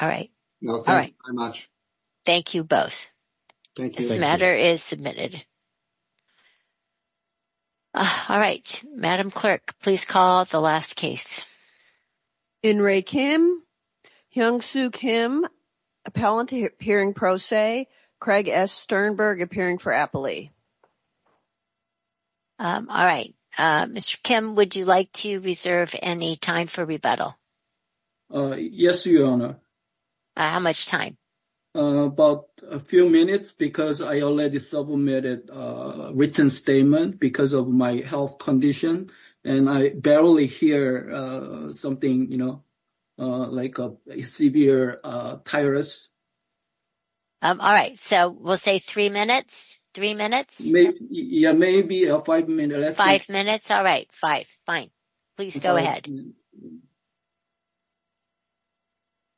All right, all right, thank you both. Thank you. This matter is submitted. All right, Madam Clerk, please call the last case. In re Kim, Hyung Soo Kim, appellant appearing pro se, Craig S. Sternberg appearing for appellee. Um, all right. Uh, Mr. Kim, would you like to reserve any time for rebuttal? Uh, yes, Your Honor. How much time? Uh, about a few minutes because I already submitted a written statement because of my health condition and I barely hear something, you know, uh, like a severe, uh, tireless. Um, all right. So we'll say three minutes, three minutes, maybe a five minute, five minutes. All right. Five. Fine. Please go ahead.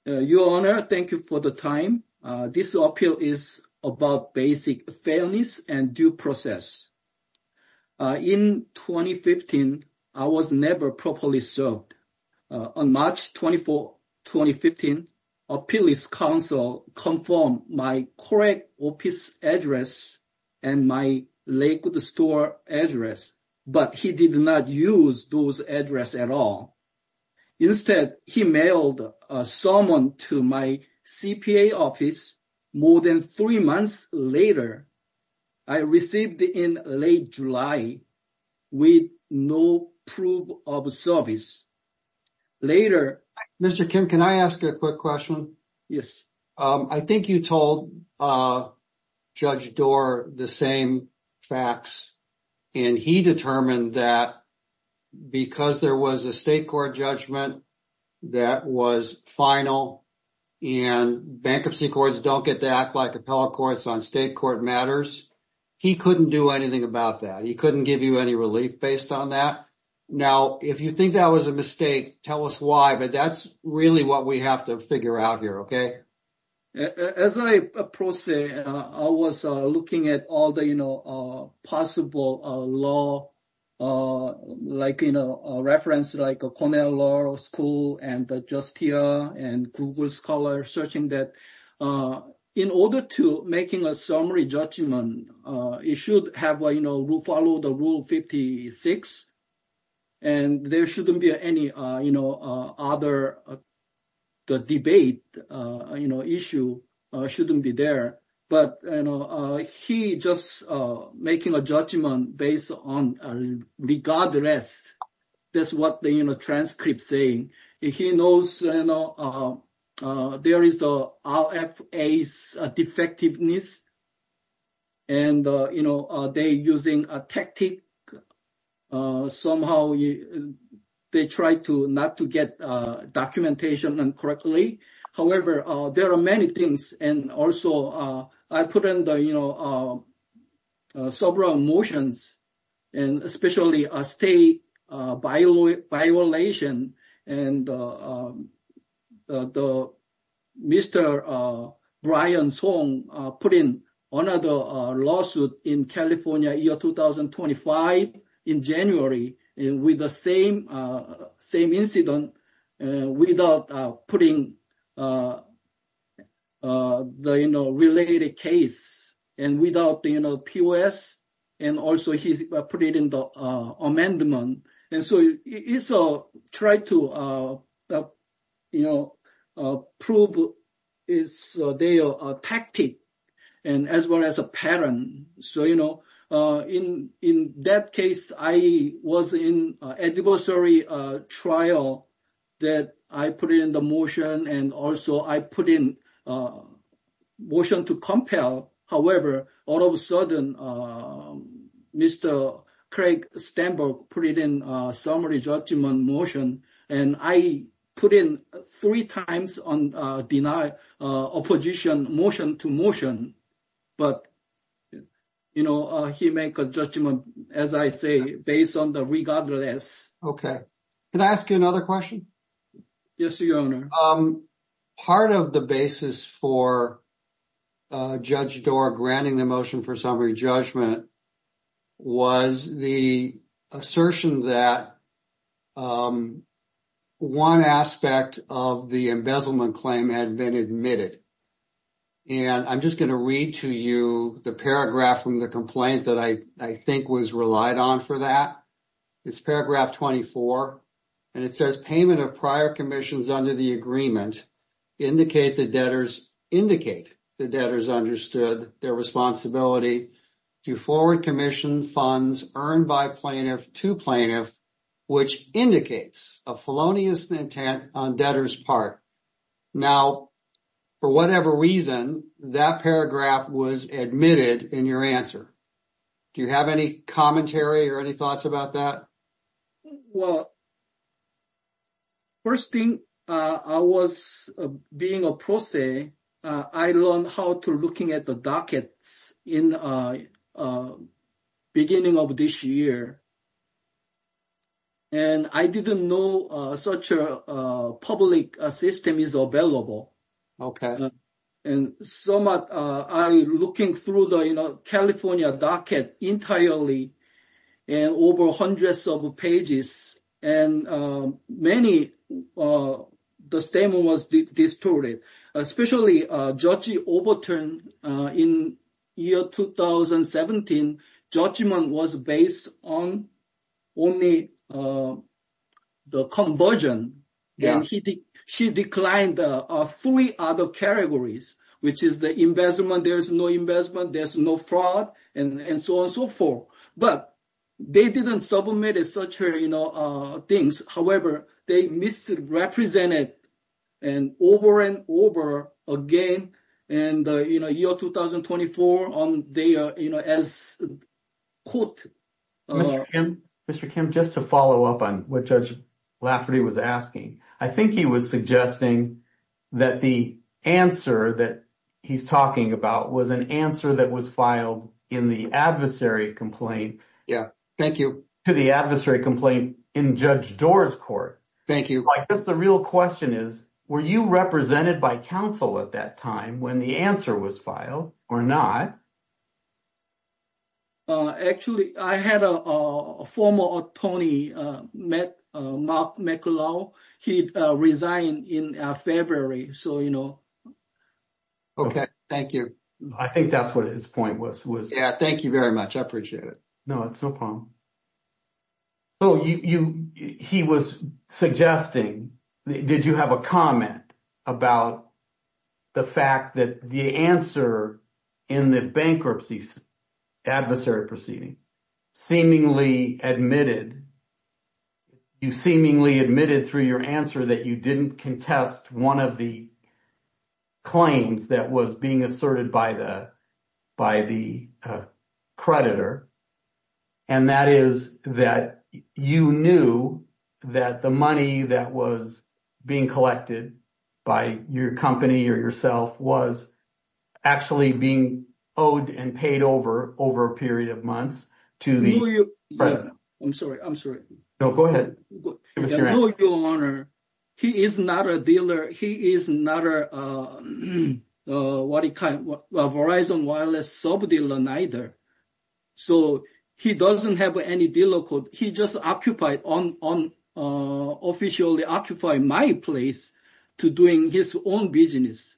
Uh, Your Honor, thank you for the time. Uh, this appeal is about basic fairness and due process. Uh, in 2015, I was never properly served. Uh, on March 24, 2015, appellee's counsel confirmed my correct office address and my Lakewood store address, but he did not use those address at all. Instead, he mailed a summon to my CPA office more than three months later. I received in late July with no proof of service. Mr. Kim, can I ask a quick question? Yes. Um, I think you told, uh, judge door the same facts and he determined that because there was a state court judgment that was final and bankruptcy courts don't get to act like appellate courts on state court matters. He couldn't do anything about that. He couldn't give you any relief based on that. Now, if you think that was a mistake, tell us why, but that's really what we have to figure out here. Okay. As I proceed, I was looking at all the, you know, uh, possible, uh, law, uh, like, you know, a reference, like a Cornell law school and just here and Google scholar searching that, uh, in order to making a summary judgment, uh, it should have a, you know, we'll follow the rule 56. And there shouldn't be any, uh, you know, uh, other. The debate, uh, you know, issue, uh, shouldn't be there, but, you know, uh, he just, uh, making a judgment based on, uh, regardless. That's what the, you know, transcript saying he knows, you know, um, uh, there is the RFA's defectiveness. And, uh, you know, uh, they using a tactic, uh, somehow they try to not to get, uh, documentation and correctly. However, uh, there are many things and also, uh, I put in the, you know, uh, uh, several motions. And especially a state, uh, by law, by relation and, uh, um, uh, the. Mr, uh, Brian's home, uh, put in another, uh, lawsuit in California year, 2025 in January and with the same, uh, same incident. Without, uh, putting, uh, uh, the, you know, related case and without the, you know, POS. And also he put it in the, uh, amendment. And so it's, uh, try to, uh, uh, you know, uh, prove. It's a day or a tactic and as well as a pattern. So, you know, uh, in, in that case, I was in Adversary, uh, trial that I put it in the motion and also I put in, uh, motion to compel. However, all of a sudden, uh, Mr. Craig Stamberg put it in a summary judgment motion and I put in three times on, uh, deny, uh, opposition motion to motion. But, you know, uh, he make a judgment, as I say, based on the regardless. Okay. Can I ask you another question? Yes, your honor. Um, part of the basis for, uh, Judge Dorr granting the motion for summary judgment was the assertion that, um, one aspect of the embezzlement claim had been admitted. And I'm just going to read to you the paragraph from the complaint that I, I think was relied on for that. It's paragraph 24 and it says payment of prior commissions under the agreement indicate the debtors, indicate the debtors understood their responsibility to forward commission funds earned by plaintiff to plaintiff, which indicates a felonious intent on debtor's part. Now, for whatever reason, that paragraph was admitted in your answer. Do you have any commentary or any thoughts about that? Well, first thing, uh, I was being a prose, uh, I learned how to looking at the in, uh, uh, beginning of this year. And I didn't know, uh, such a, uh, public system is available. Okay. And so much, uh, I looking through the, you know, California docket entirely and over hundreds of pages and, um, many, uh, the statement was distorted, especially, uh, overturned, uh, in year 2017, judgment was based on only, uh, the conversion. And he, she declined, uh, uh, three other categories, which is the investment. There's no investment, there's no fraud and so on and so forth, but they didn't submit as such her, you however, they misrepresented and over and over again. And, uh, you know, year 2024 on there, you know, as quote, Mr. Kim, Mr. Kim, just to follow up on what judge Lafferty was asking. I think he was suggesting that the answer that he's talking about was an answer that was filed in the adversary complaint. Yeah. Thank you to the adversary complaint in judge doors court. Thank you. I guess the real question is, were you represented by council at that time when the answer was filed or not? Uh, actually I had a, uh, a former Tony, uh, met, uh, Mark McCullough. He, uh, resigned in February. So, you know, okay. Thank you. I think that's what his point was. Yeah. Thank you very much. I appreciate it. No, it's no problem. So you, you, he was suggesting, did you have a comment about the fact that the answer in the bankruptcy adversary proceeding seemingly admitted you seemingly admitted through your answer that you didn't contest one of the claims that was being asserted by the, by the, uh, creditor. And that is that you knew that the money that was being collected by your company or yourself was actually being owed and paid over, over a period of months. I'm sorry. I'm sorry. No, go ahead. He is not a dealer. He is not a, uh, uh, what kind of Verizon wireless sub dealer neither. So he doesn't have any dealer code. He just occupied on, on, uh, officially occupy my place. To doing his own business.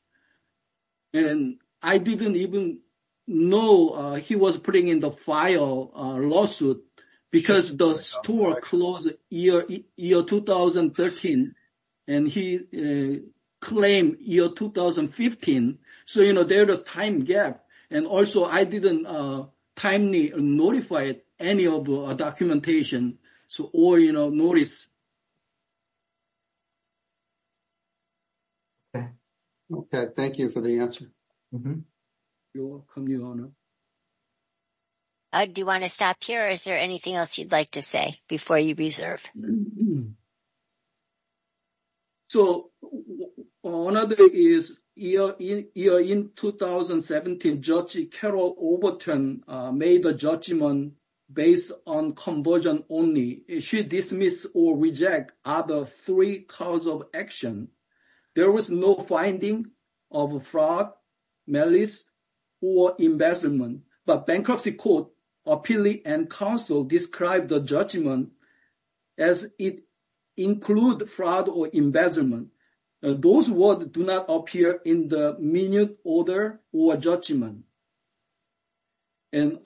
And I didn't even know, uh, he was putting in the file, uh, lawsuit because the store closed year, year 2013. And he, uh, claimed year 2015. So, you know, there was time gap. And also I didn't, uh, timely notified any of our documentation. So, or, you know, notice. Okay. Okay. Thank you for the answer. You're welcome. You honor. Do you want to stop here? Is there anything else you'd like to say before you reserve? So one other is year in year in 2017, judge Carol Overton made a judgment based on conversion only should dismiss or reject other three cause of action. There was no finding of a fraud, malice or embezzlement, but bankruptcy court appealee and counsel described the judgment as it include fraud or embezzlement. Those words do not appear in the minute order or judgment. And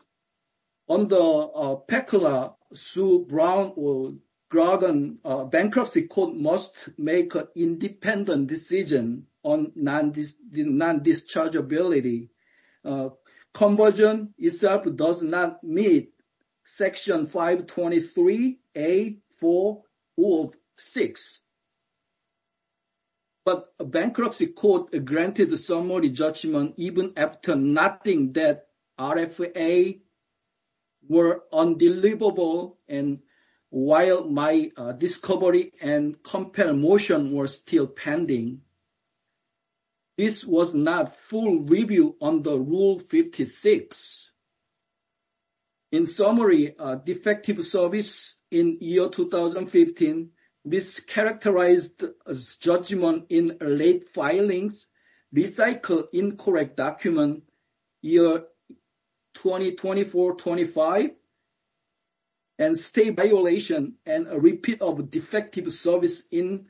on the, uh, PECLA, Sue Brown or Grogon, uh, bankruptcy court must make an independent decision on non-dischargeability. Conversion itself does not meet section 523, 8, 4, or 6. But a bankruptcy court granted the summary judgment even after nothing that RFA were undeliverable. And while my discovery and compare motion were still pending, this was not full review on the rule 56. In summary, a defective service in year 2015 mischaracterized judgment in late filings, recycle incorrect document year 2024-25, and state violation and a repeat of defective service in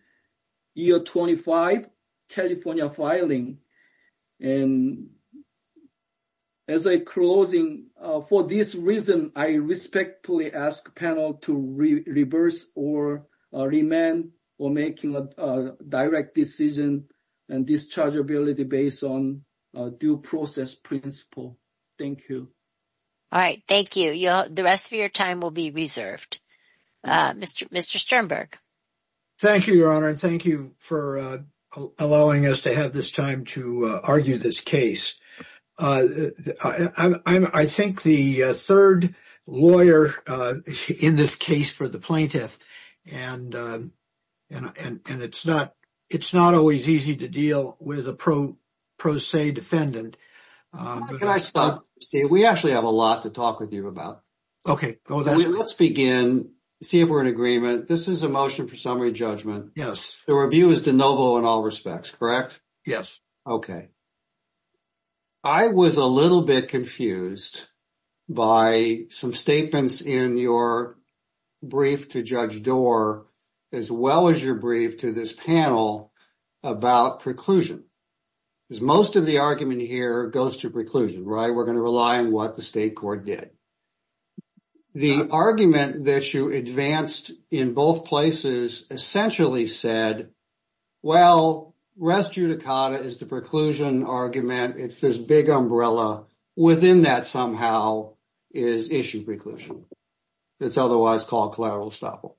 year 25 California filing. And as a closing, uh, for this reason, I respectfully ask panel to reverse or remand or making a direct decision and dischargeability based on due process principle. Thank you. All right. Thank you. The rest of your time will be reserved. Mr. Sternberg. Thank you, Your Honor. And thank you for, uh, allowing us to have this time to, uh, argue this case. Uh, I, I'm, I think the, uh, third lawyer, uh, in this case for the plaintiff and, uh, and, and it's not, it's not always easy to deal with a pro, pro se defendant. Can I stop? See, we actually have a lot to talk with you about. Okay. Let's begin. See if we're in agreement. This is a motion for summary judgment. Yes. The review is de novo in all respects, correct? Yes. Okay. I was a little bit confused by some statements in your brief to judge door, as well as your brief to this panel about preclusion is most of the argument here goes to preclusion, right? We're going to rely on what the state court did. The argument that you advanced in both places essentially said, well, res judicata is the preclusion argument. It's this big umbrella within that somehow is issue preclusion. It's otherwise called collateral estoppel.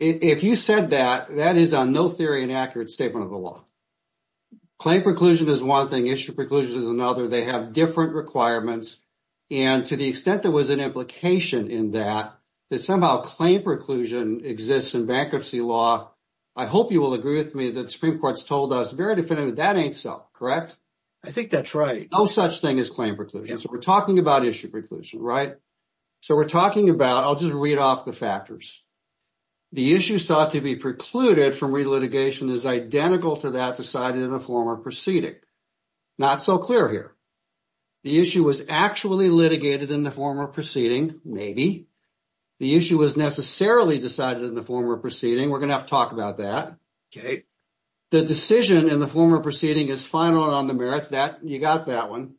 If you said that, that is a no theory and accurate statement of the law. Claim preclusion is one thing. Issue preclusion is another. They have different requirements. And to the extent that was an implication in that, that somehow claim preclusion exists in bankruptcy law. I hope you will agree with me that the Supreme court's told us very definitively that ain't so correct. I think that's right. No such thing as claim preclusion. So we're talking about issue preclusion, right? So we're talking about, I'll just read off the factors. The issue sought to be precluded from relitigation is identical to that decided in a former proceeding. Not so clear here. The issue was actually litigated in the former proceeding. Maybe. The issue was necessarily decided in the former proceeding. We're going to have to talk about that. Okay. The decision in the former proceeding is final on the merits that you got that one.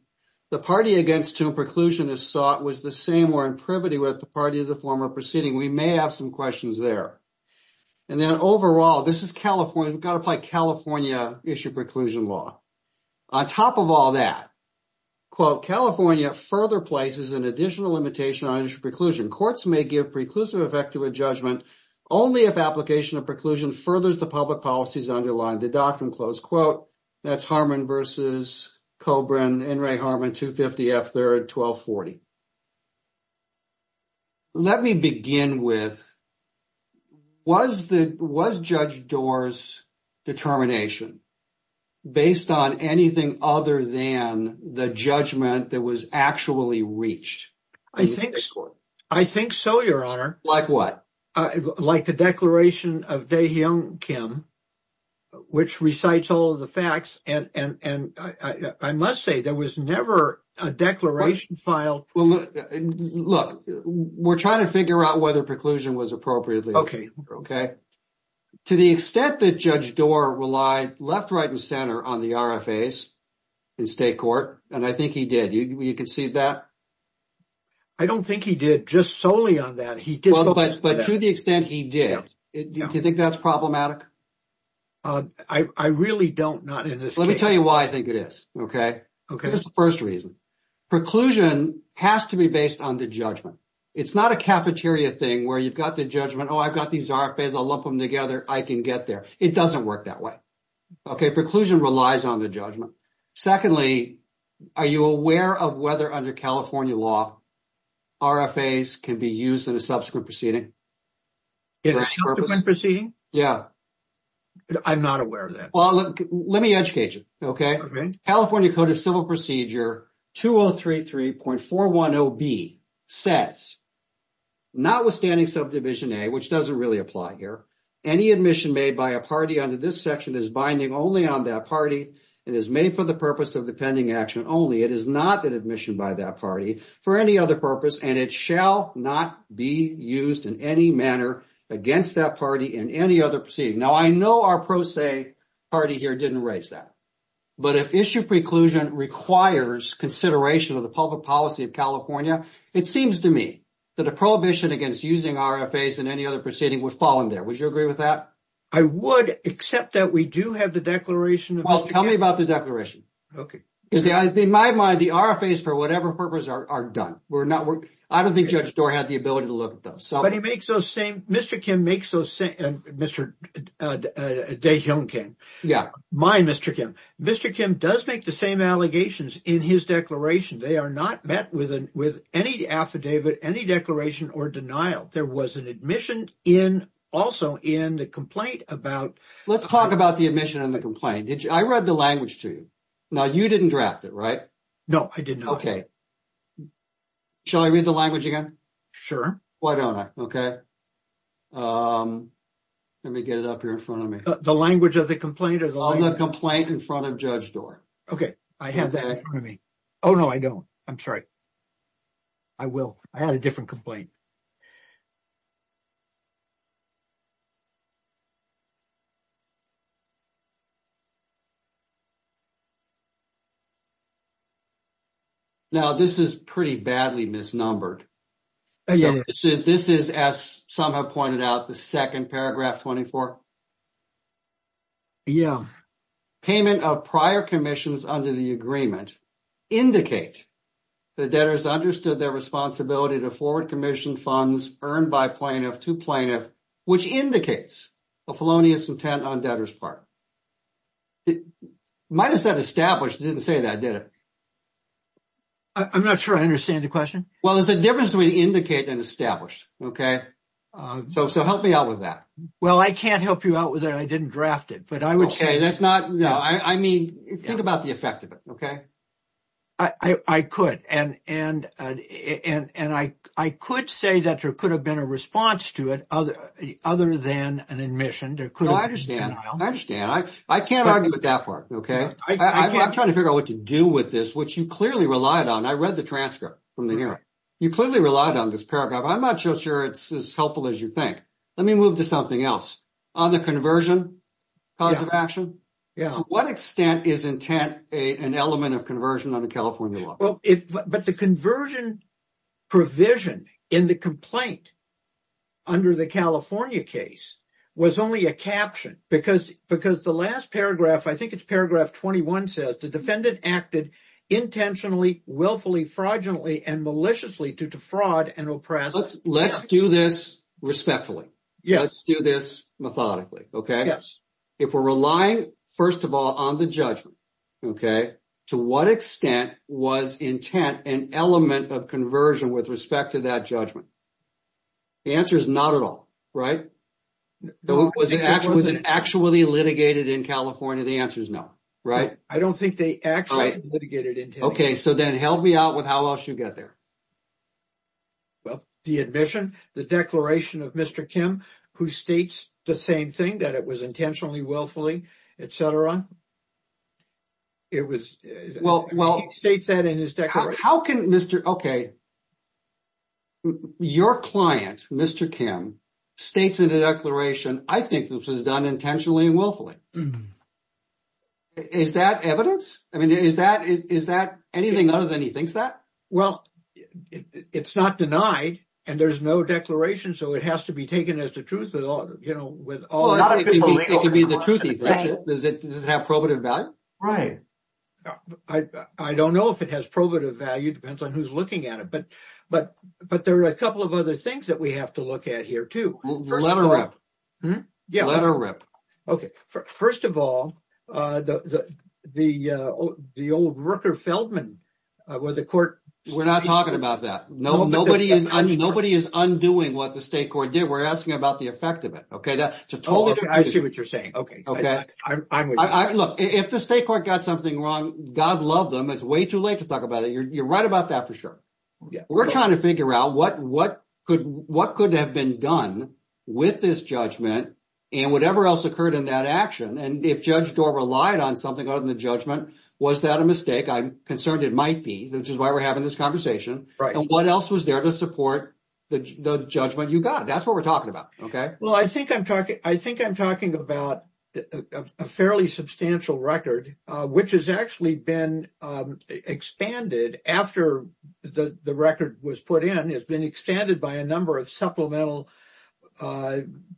The party against whom preclusion is sought was the same or in privity with the party of the former proceeding. We may have some questions there. And then overall, this is California. We've got to play California issue preclusion law. On top of all that, quote, California further places an additional limitation on preclusion. Courts may give preclusive effect to a judgment only if application of preclusion furthers the public policies underlying the doctrine. Close quote. That's Harmon versus Cobran and Ray Harmon, 250 F third, 1240. Let me begin with, was the, was Judge Doar's determination based on anything other than the judgment that was actually reached? I think so, your honor. Like what? Like the declaration of Dae Hyung Kim, which recites all the facts. And, and, and I, I must say there was never a declaration filed. Well, look, we're trying to figure out whether preclusion was appropriately. Okay. Okay. To the extent that Judge Doar relied left, right, and center on the RFAs in state court. And I think he did. You, you can see that. I don't think he did just solely on that. He did. But to the extent he did. Do you think that's problematic? I, I really don't, not in this case. Let me tell you why I think it is. Okay. Okay. Here's the first reason. Preclusion has to be based on the judgment. It's not a cafeteria thing where you've got the judgment. Oh, I've got these RFAs. I'll lump them together. I can get there. It doesn't work that way. Okay. Preclusion relies on the judgment. Secondly, are you aware of whether under California law, RFAs can be used in a subsequent proceeding? In a subsequent proceeding? Yeah. I'm not aware of that. Well, look, let me educate you. Okay. Okay. California Code of Civil Procedure 2033.410B says, notwithstanding subdivision A, which doesn't really apply here, any admission made by a party under this section is binding only on that party and is made for the purpose of the pending action only. It is not an admission by that party for any other purpose, and it shall not be used in any manner against that party in any other proceeding. Now, I know our pro se party here didn't raise that, but if issue preclusion requires consideration of the public policy of California, it seems to me that a prohibition against using RFAs in any other proceeding would fall in there. Would you agree with that? I would, except that we do have the declaration. Well, tell me about the declaration. Okay. In my mind, the RFAs for whatever purpose are done. I don't think Judge Doar had the ability to look at those. But he makes those same... Mr. Kim makes those same... Mr. Dae-hyung Kim. Yeah. My Mr. Kim. Mr. Kim does make the same allegations in his declaration. They are not met with any affidavit, any declaration or denial. There was an admission also in the complaint about... Let's talk about the admission and the complaint. I read the language to you. Now, you didn't draft it, right? No, I did not. Okay. Shall I read the language again? Sure. Why don't I? Okay. Let me get it up here in front of me. The language of the complaint is... On the complaint in front of Judge Doar. Okay. I have that in front of me. Oh, no, I don't. I'm sorry. I will. I had a different complaint. Now, this is pretty badly misnumbered. This is, as some have pointed out, the second paragraph 24. Yeah. Payment of prior commissions under the agreement indicate the debtors understood their responsibility to forward commission funds earned by plaintiff to plaintiff, which indicates a felonious intent on debtor's part. It might have said established. It didn't say that, did it? I'm not sure I understand the question. Well, there's a difference between indicate and establish, okay? So help me out with that. Well, I can't help you out with it. I didn't draft it, but I would say... Okay. That's not... No. I mean, think about the effect of it, okay? I could. And I could say that there could have been a response to it other than an admission. No, I understand. I understand. I can't argue with that part, okay? I'm trying to figure out what to do with this, which you clearly relied on. I read the transcript from the hearing. You clearly relied on this paragraph. I'm not so sure it's as helpful as you think. Let me move to something else. On the conversion cause of action, to what extent is intent an element of conversion under California law? But the conversion provision in the complaint under the California case was only a caption, because the last paragraph, I think it's paragraph 21 says, the defendant acted intentionally, willfully, fraudulently, and maliciously due to fraud and oppression. Let's do this respectfully. Let's do this methodically, okay? Yes. If we're relying, first of all, on the judgment, okay, to what extent was intent an element of conversion with respect to that judgment? The answer is not at all, right? Was it actually litigated in California? The answer is no, right? I don't think they actually litigated intent. Okay, so then help me out with how else you get there. Well, the admission, the declaration of Mr. Kim, who states the same thing, that it was intentionally, willfully, et cetera. It was... Well, he states that in his declaration. How can Mr... Okay, your client, Mr. Kim, states in the declaration, I think this was done intentionally and willfully. Is that evidence? I mean, is that anything other than he thinks that? Well, it's not denied, and there's no declaration, so it has to be taken as the truth with all... Well, it could be the truth, if that's it. Does it have probative value? Right. I don't know if it has probative value. It depends on who's looking at it, but there are a couple of other things that we have to look at here, too. Let her rip. Let her rip. Okay. First of all, the old Rooker-Feldman, where the court... We're not talking about that. Nobody is undoing what the state court did. We're asking about the effect of it, okay? That's a totally different... I see what you're saying. Okay. I'm with you. Look, if the state court got something wrong, God love them. It's way too late to talk about it. You're right about that for sure. We're trying to figure out what could have been done with this judgment and whatever else occurred in that action, and if Judge Dorr relied on something other than the judgment, was that a mistake? I'm concerned it might be, which is why we're having this conversation. And what else was there to support the judgment you got? That's what we're talking about, okay? Well, I think I'm talking about a fairly substantial record, which has actually been expanded after the record was put in. It's been expanded by a number of supplemental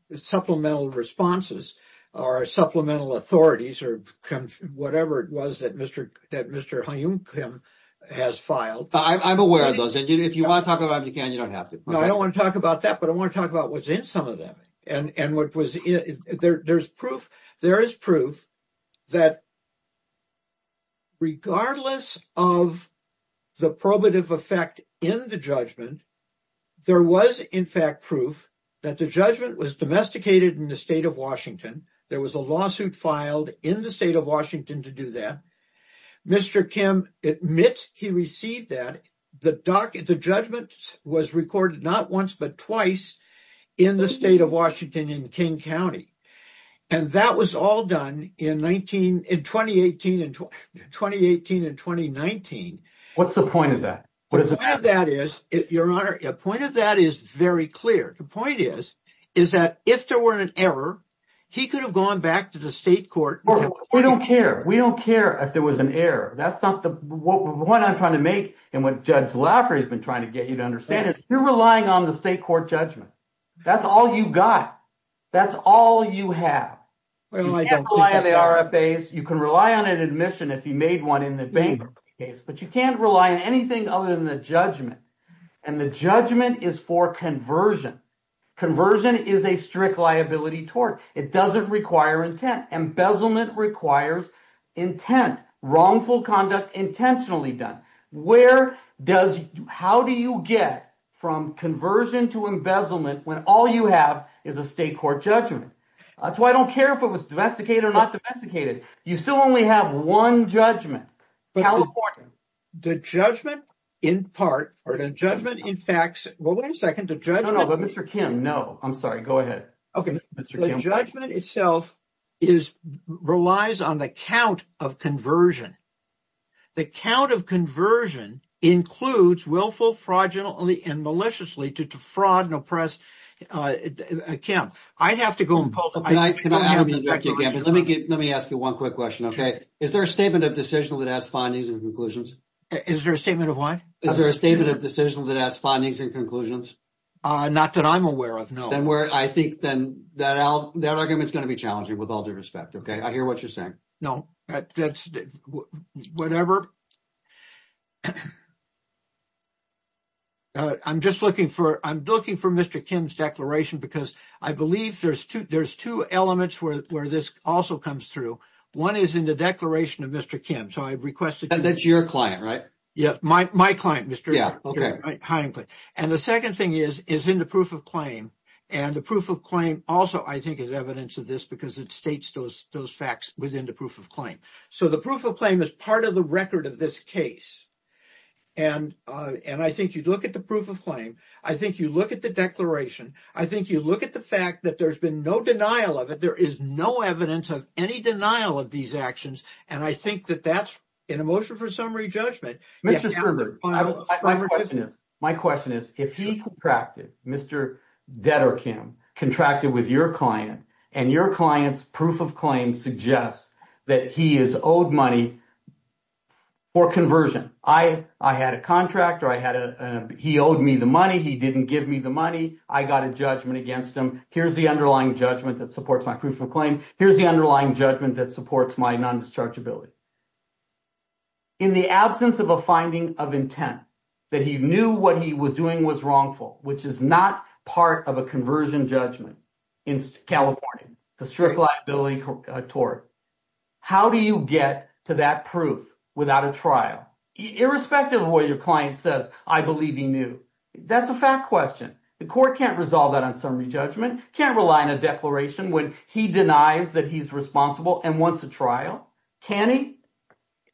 responses or supplemental authorities or whatever it was that Mr. Hyunkim has filed. I'm aware of those. If you want to talk about them, you can. You don't have to. No, I don't want to talk about that, but I want to talk about what's in some of them. There is proof that regardless of the probative effect in the judgment, there was, in fact, proof that the judgment was domesticated in the state of Washington. There was a lawsuit filed in the state of Washington to do that. Mr. Kim admits he received that. The judgment was recorded not once but twice in the state of Washington in King County. And that was all done in 2018 and 2019. What's the point of that? The point of that is very clear. The point is that if there were an error, he could have gone back to the state court. We don't care. We don't care if there was an error. That's not what I'm trying to make and what Judge Laffer has been trying to get you to understand. You're relying on the state court judgment. That's all you got. That's all you have. You can't rely on the RFAs. You can rely on an admission if you made one in the bank case, but you can't rely on anything other than the judgment. And the judgment is for conversion. Conversion is a strict liability tort. It requires intent, wrongful conduct intentionally done. How do you get from conversion to embezzlement when all you have is a state court judgment? That's why I don't care if it was domesticated or not domesticated. You still only have one judgment. California. The judgment in part or the judgment in facts. Well, wait a second. The judgment. But Mr. Kim, no, I'm sorry. Go ahead. Okay. The judgment itself is relies on the count of conversion. The count of conversion includes willful fraudulently and maliciously to defraud and oppress. Kim, I have to go. Let me ask you one quick question. Okay. Is there a statement of decision that has findings and conclusions? Is there a statement of what? Is there a statement of decision that has findings and conclusions? Not that I'm aware of, no. Then where I think then that argument is going to be challenging with all due respect. Okay. I hear what you're saying. No, that's whatever. I'm just looking for, I'm looking for Mr. Kim's declaration because I believe there's two elements where this also comes through. One is in the declaration of Mr. Kim. So I've requested. And that's your client, right? Yeah. My client, Mr. Kim. Okay. And the second thing is, is in the proof of claim. And the proof of claim also I think is evidence of this because it states those facts within the proof of claim. So the proof of claim is part of the record of this case. And I think you'd look at the proof of claim. I think you look at the declaration. I think you look at the fact that there's been no denial of it. There is no evidence of any denial of these actions. And I think that that's an emotion for summary judgment. My question is, if he contracted, Mr. Dedder Kim contracted with your client and your client's proof of claim suggests that he is owed money for conversion. I had a contractor. I had a, he owed me the money. He didn't give me the money. I got a judgment against him. Here's the underlying judgment that supports my proof of claim. Here's the underlying judgment that supports my non-dischargeability. In the absence of a finding of intent that he knew what he was doing was wrongful, which is not part of a conversion judgment in California, it's a strict liability tort. How do you get to that proof without a trial? Irrespective of what your client says, I believe he knew. That's a fact question. The court can't resolve that on summary judgment, can't rely on a declaration when he denies that he's responsible and wants a trial. Can he?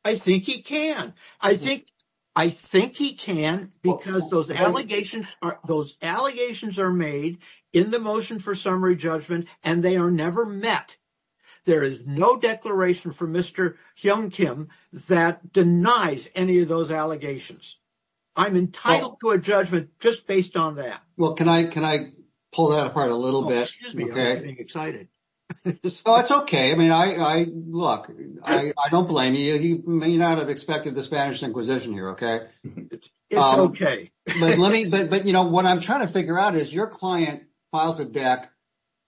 I think he can. I think, I think he can because those allegations are, those allegations are made in the motion for summary judgment and they are never met. There is no declaration for Mr. Hyun Kim that denies any of those allegations. I'm entitled to a judgment just based on that. Well, can I, can I pull that apart a little bit? Excuse me, I'm getting excited. It's okay. I mean, I, I look, I don't blame you. You may not have expected the Spanish inquisition here. Okay. It's okay. But let me, but, but you know, what I'm trying to figure out is your client files a deck.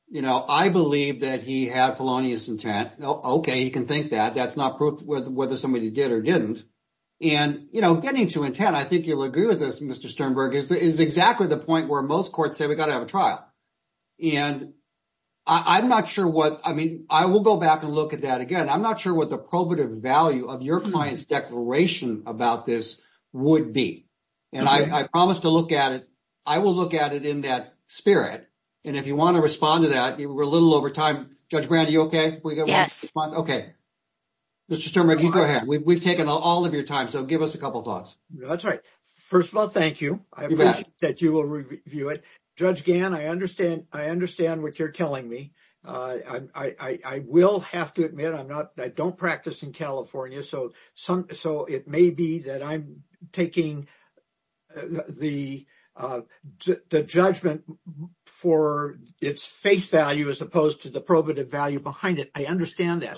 You know, I believe that he had felonious intent. Okay. You can think that that's not proof whether somebody did or didn't. And you know, getting to intent, I think you'll agree with this. Mr. Sternberg is the, is exactly the point where most courts say we've got to have a trial. And I'm not sure what, I mean, I will go back and look at that again. I'm not sure what the probative value of your client's declaration about this would be. And I promised to look at it. I will look at it in that spirit. And if you want to respond to that, we're a little over time. Judge Brand, are you okay? Okay. Mr. Sternberg, you go ahead. We've taken all of your time. So first of all, thank you. I appreciate that you will review it. Judge Gann, I understand what you're telling me. I will have to admit, I'm not, I don't practice in California. So some, so it may be that I'm taking the judgment for its face value as opposed to the probative value behind it. I understand that.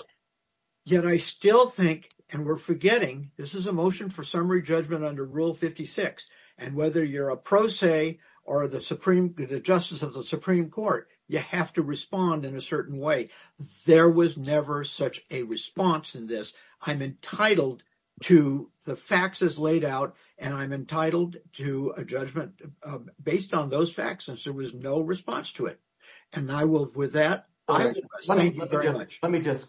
Yet I still think, and we're forgetting, this is a motion for summary judgment under Rule 56. And whether you're a pro se or the Supreme, the Justice of the Supreme Court, you have to respond in a certain way. There was never such a response in this. I'm entitled to the facts as laid out, and I'm entitled to a judgment based on those facts, since there was no response to it. And I will, with that, I would just thank you very much. Let me just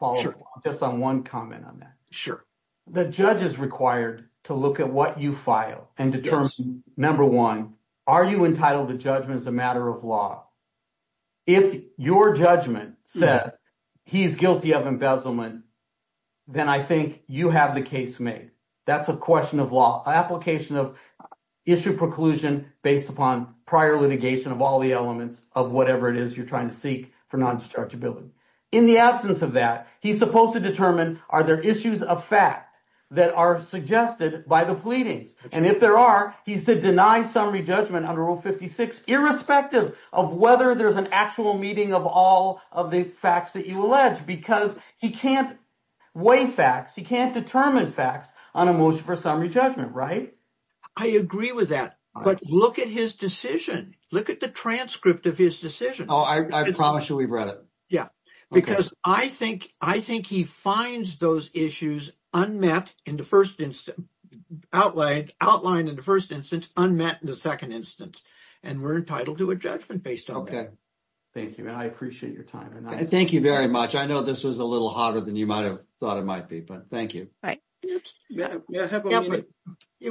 follow up just on one comment on that. Sure. The judge is required to look at what you file and determine, number one, are you entitled to judgment as a matter of law? If your judgment said he's guilty of embezzlement, then I think you have the case made. That's a question of law. Application of issue preclusion based upon prior litigation of all the elements of whatever it is you're seeking for non-dischargeability. In the absence of that, he's supposed to determine are there issues of fact that are suggested by the pleadings? And if there are, he's to deny summary judgment under Rule 56, irrespective of whether there's an actual meeting of all of the facts that you allege, because he can't weigh facts, he can't determine facts on a motion for summary judgment, right? I agree with that. But look at his decision. Look at the transcript of his decision. Oh, I promise you we've read it. Yeah, because I think he finds those issues unmet in the first instance, outlined in the first instance, unmet in the second instance, and we're entitled to a judgment based on that. Okay. Thank you, and I appreciate your time. Thank you very much. I know this was a little hotter than you might have thought it might be, but thank you. Right. It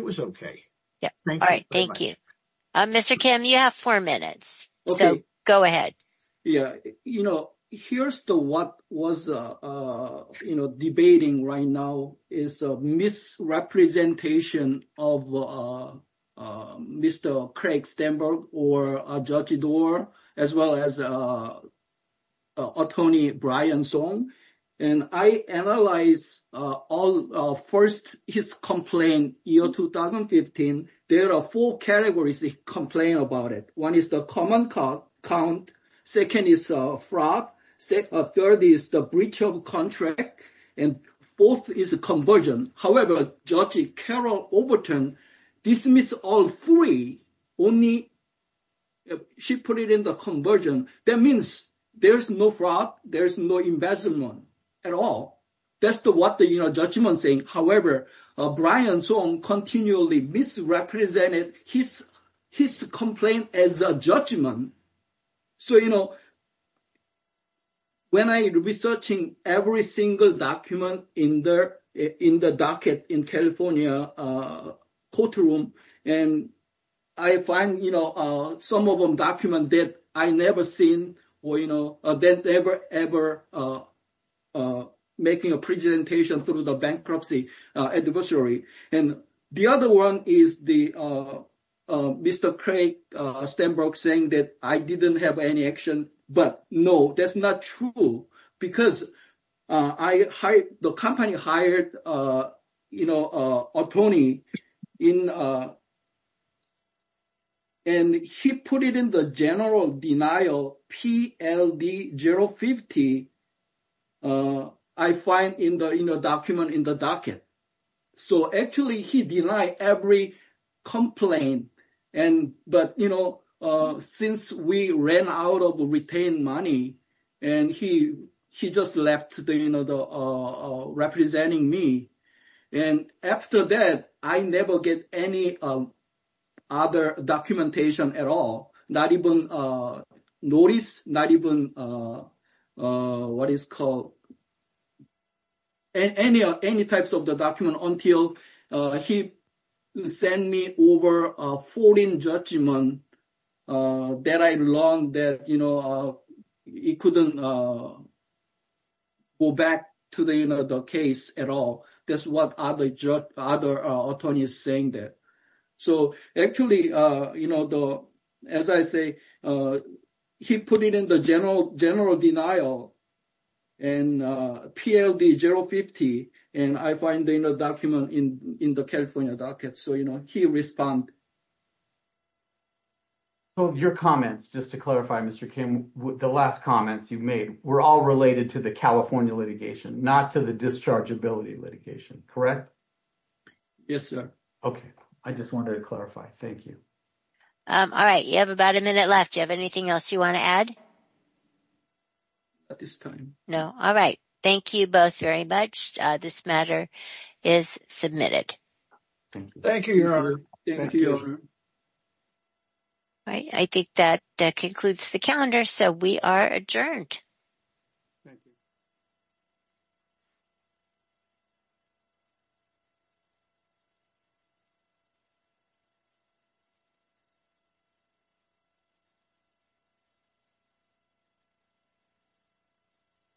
was okay. Yeah. All right. Thank you. Mr. Kim, you have four minutes, so go ahead. Yeah. Here's what was debating right now, is a misrepresentation of Mr. Craig Stenberg, or Judge Dorr, as well as Tony Bryanson. And I analyzed all first his complaint, year 2015, there are four categories he complained about it. One is common count, second is fraud, third is the breach of contract, and fourth is conversion. However, Judge Carol Overton dismissed all three, only she put it in the conversion. That means there's no fraud, there's no embezzlement at all. That's what the judgment's saying. However, Bryanson continually misrepresented his complaint as a judgment. So, when I was researching every single document in the docket in California courtroom, and I find some of them document that I never seen, that never, ever making a presentation through the bankruptcy adversary. And the other one is the Mr. Craig Stenberg saying that I didn't have any action, but no, that's not true. Because I hired, the company hired a Tony, and he put it in the general denial, PLD 050, I find in the document in the docket. So, actually, he denied every complaint. But since we ran out of retained money, and he just left representing me. And after that, I never get any other documentation at all, not even notice, not even what is called, any types of the document until he sent me over a foreign judgment that I learned that he couldn't go back to the case at all. That's what other attorneys saying that. So, actually, as I say, he put it in the general denial and PLD 050, and I find in a document in the California docket. So, he respond. So, your comments, just to clarify, Mr. Kim, the last comments you've made, were all related to the California litigation, not to the dischargeability litigation, correct? Yes, sir. Okay. I just wanted to clarify. Thank you. All right. You have about a minute left. Do you have anything else you want to add? At this time? No. All right. Thank you both very much. This matter is submitted. Thank you. Thank you, Your Honor. Thank you, Your Honor. All right. I think that concludes the calendar. So, we are adjourned. Thank you.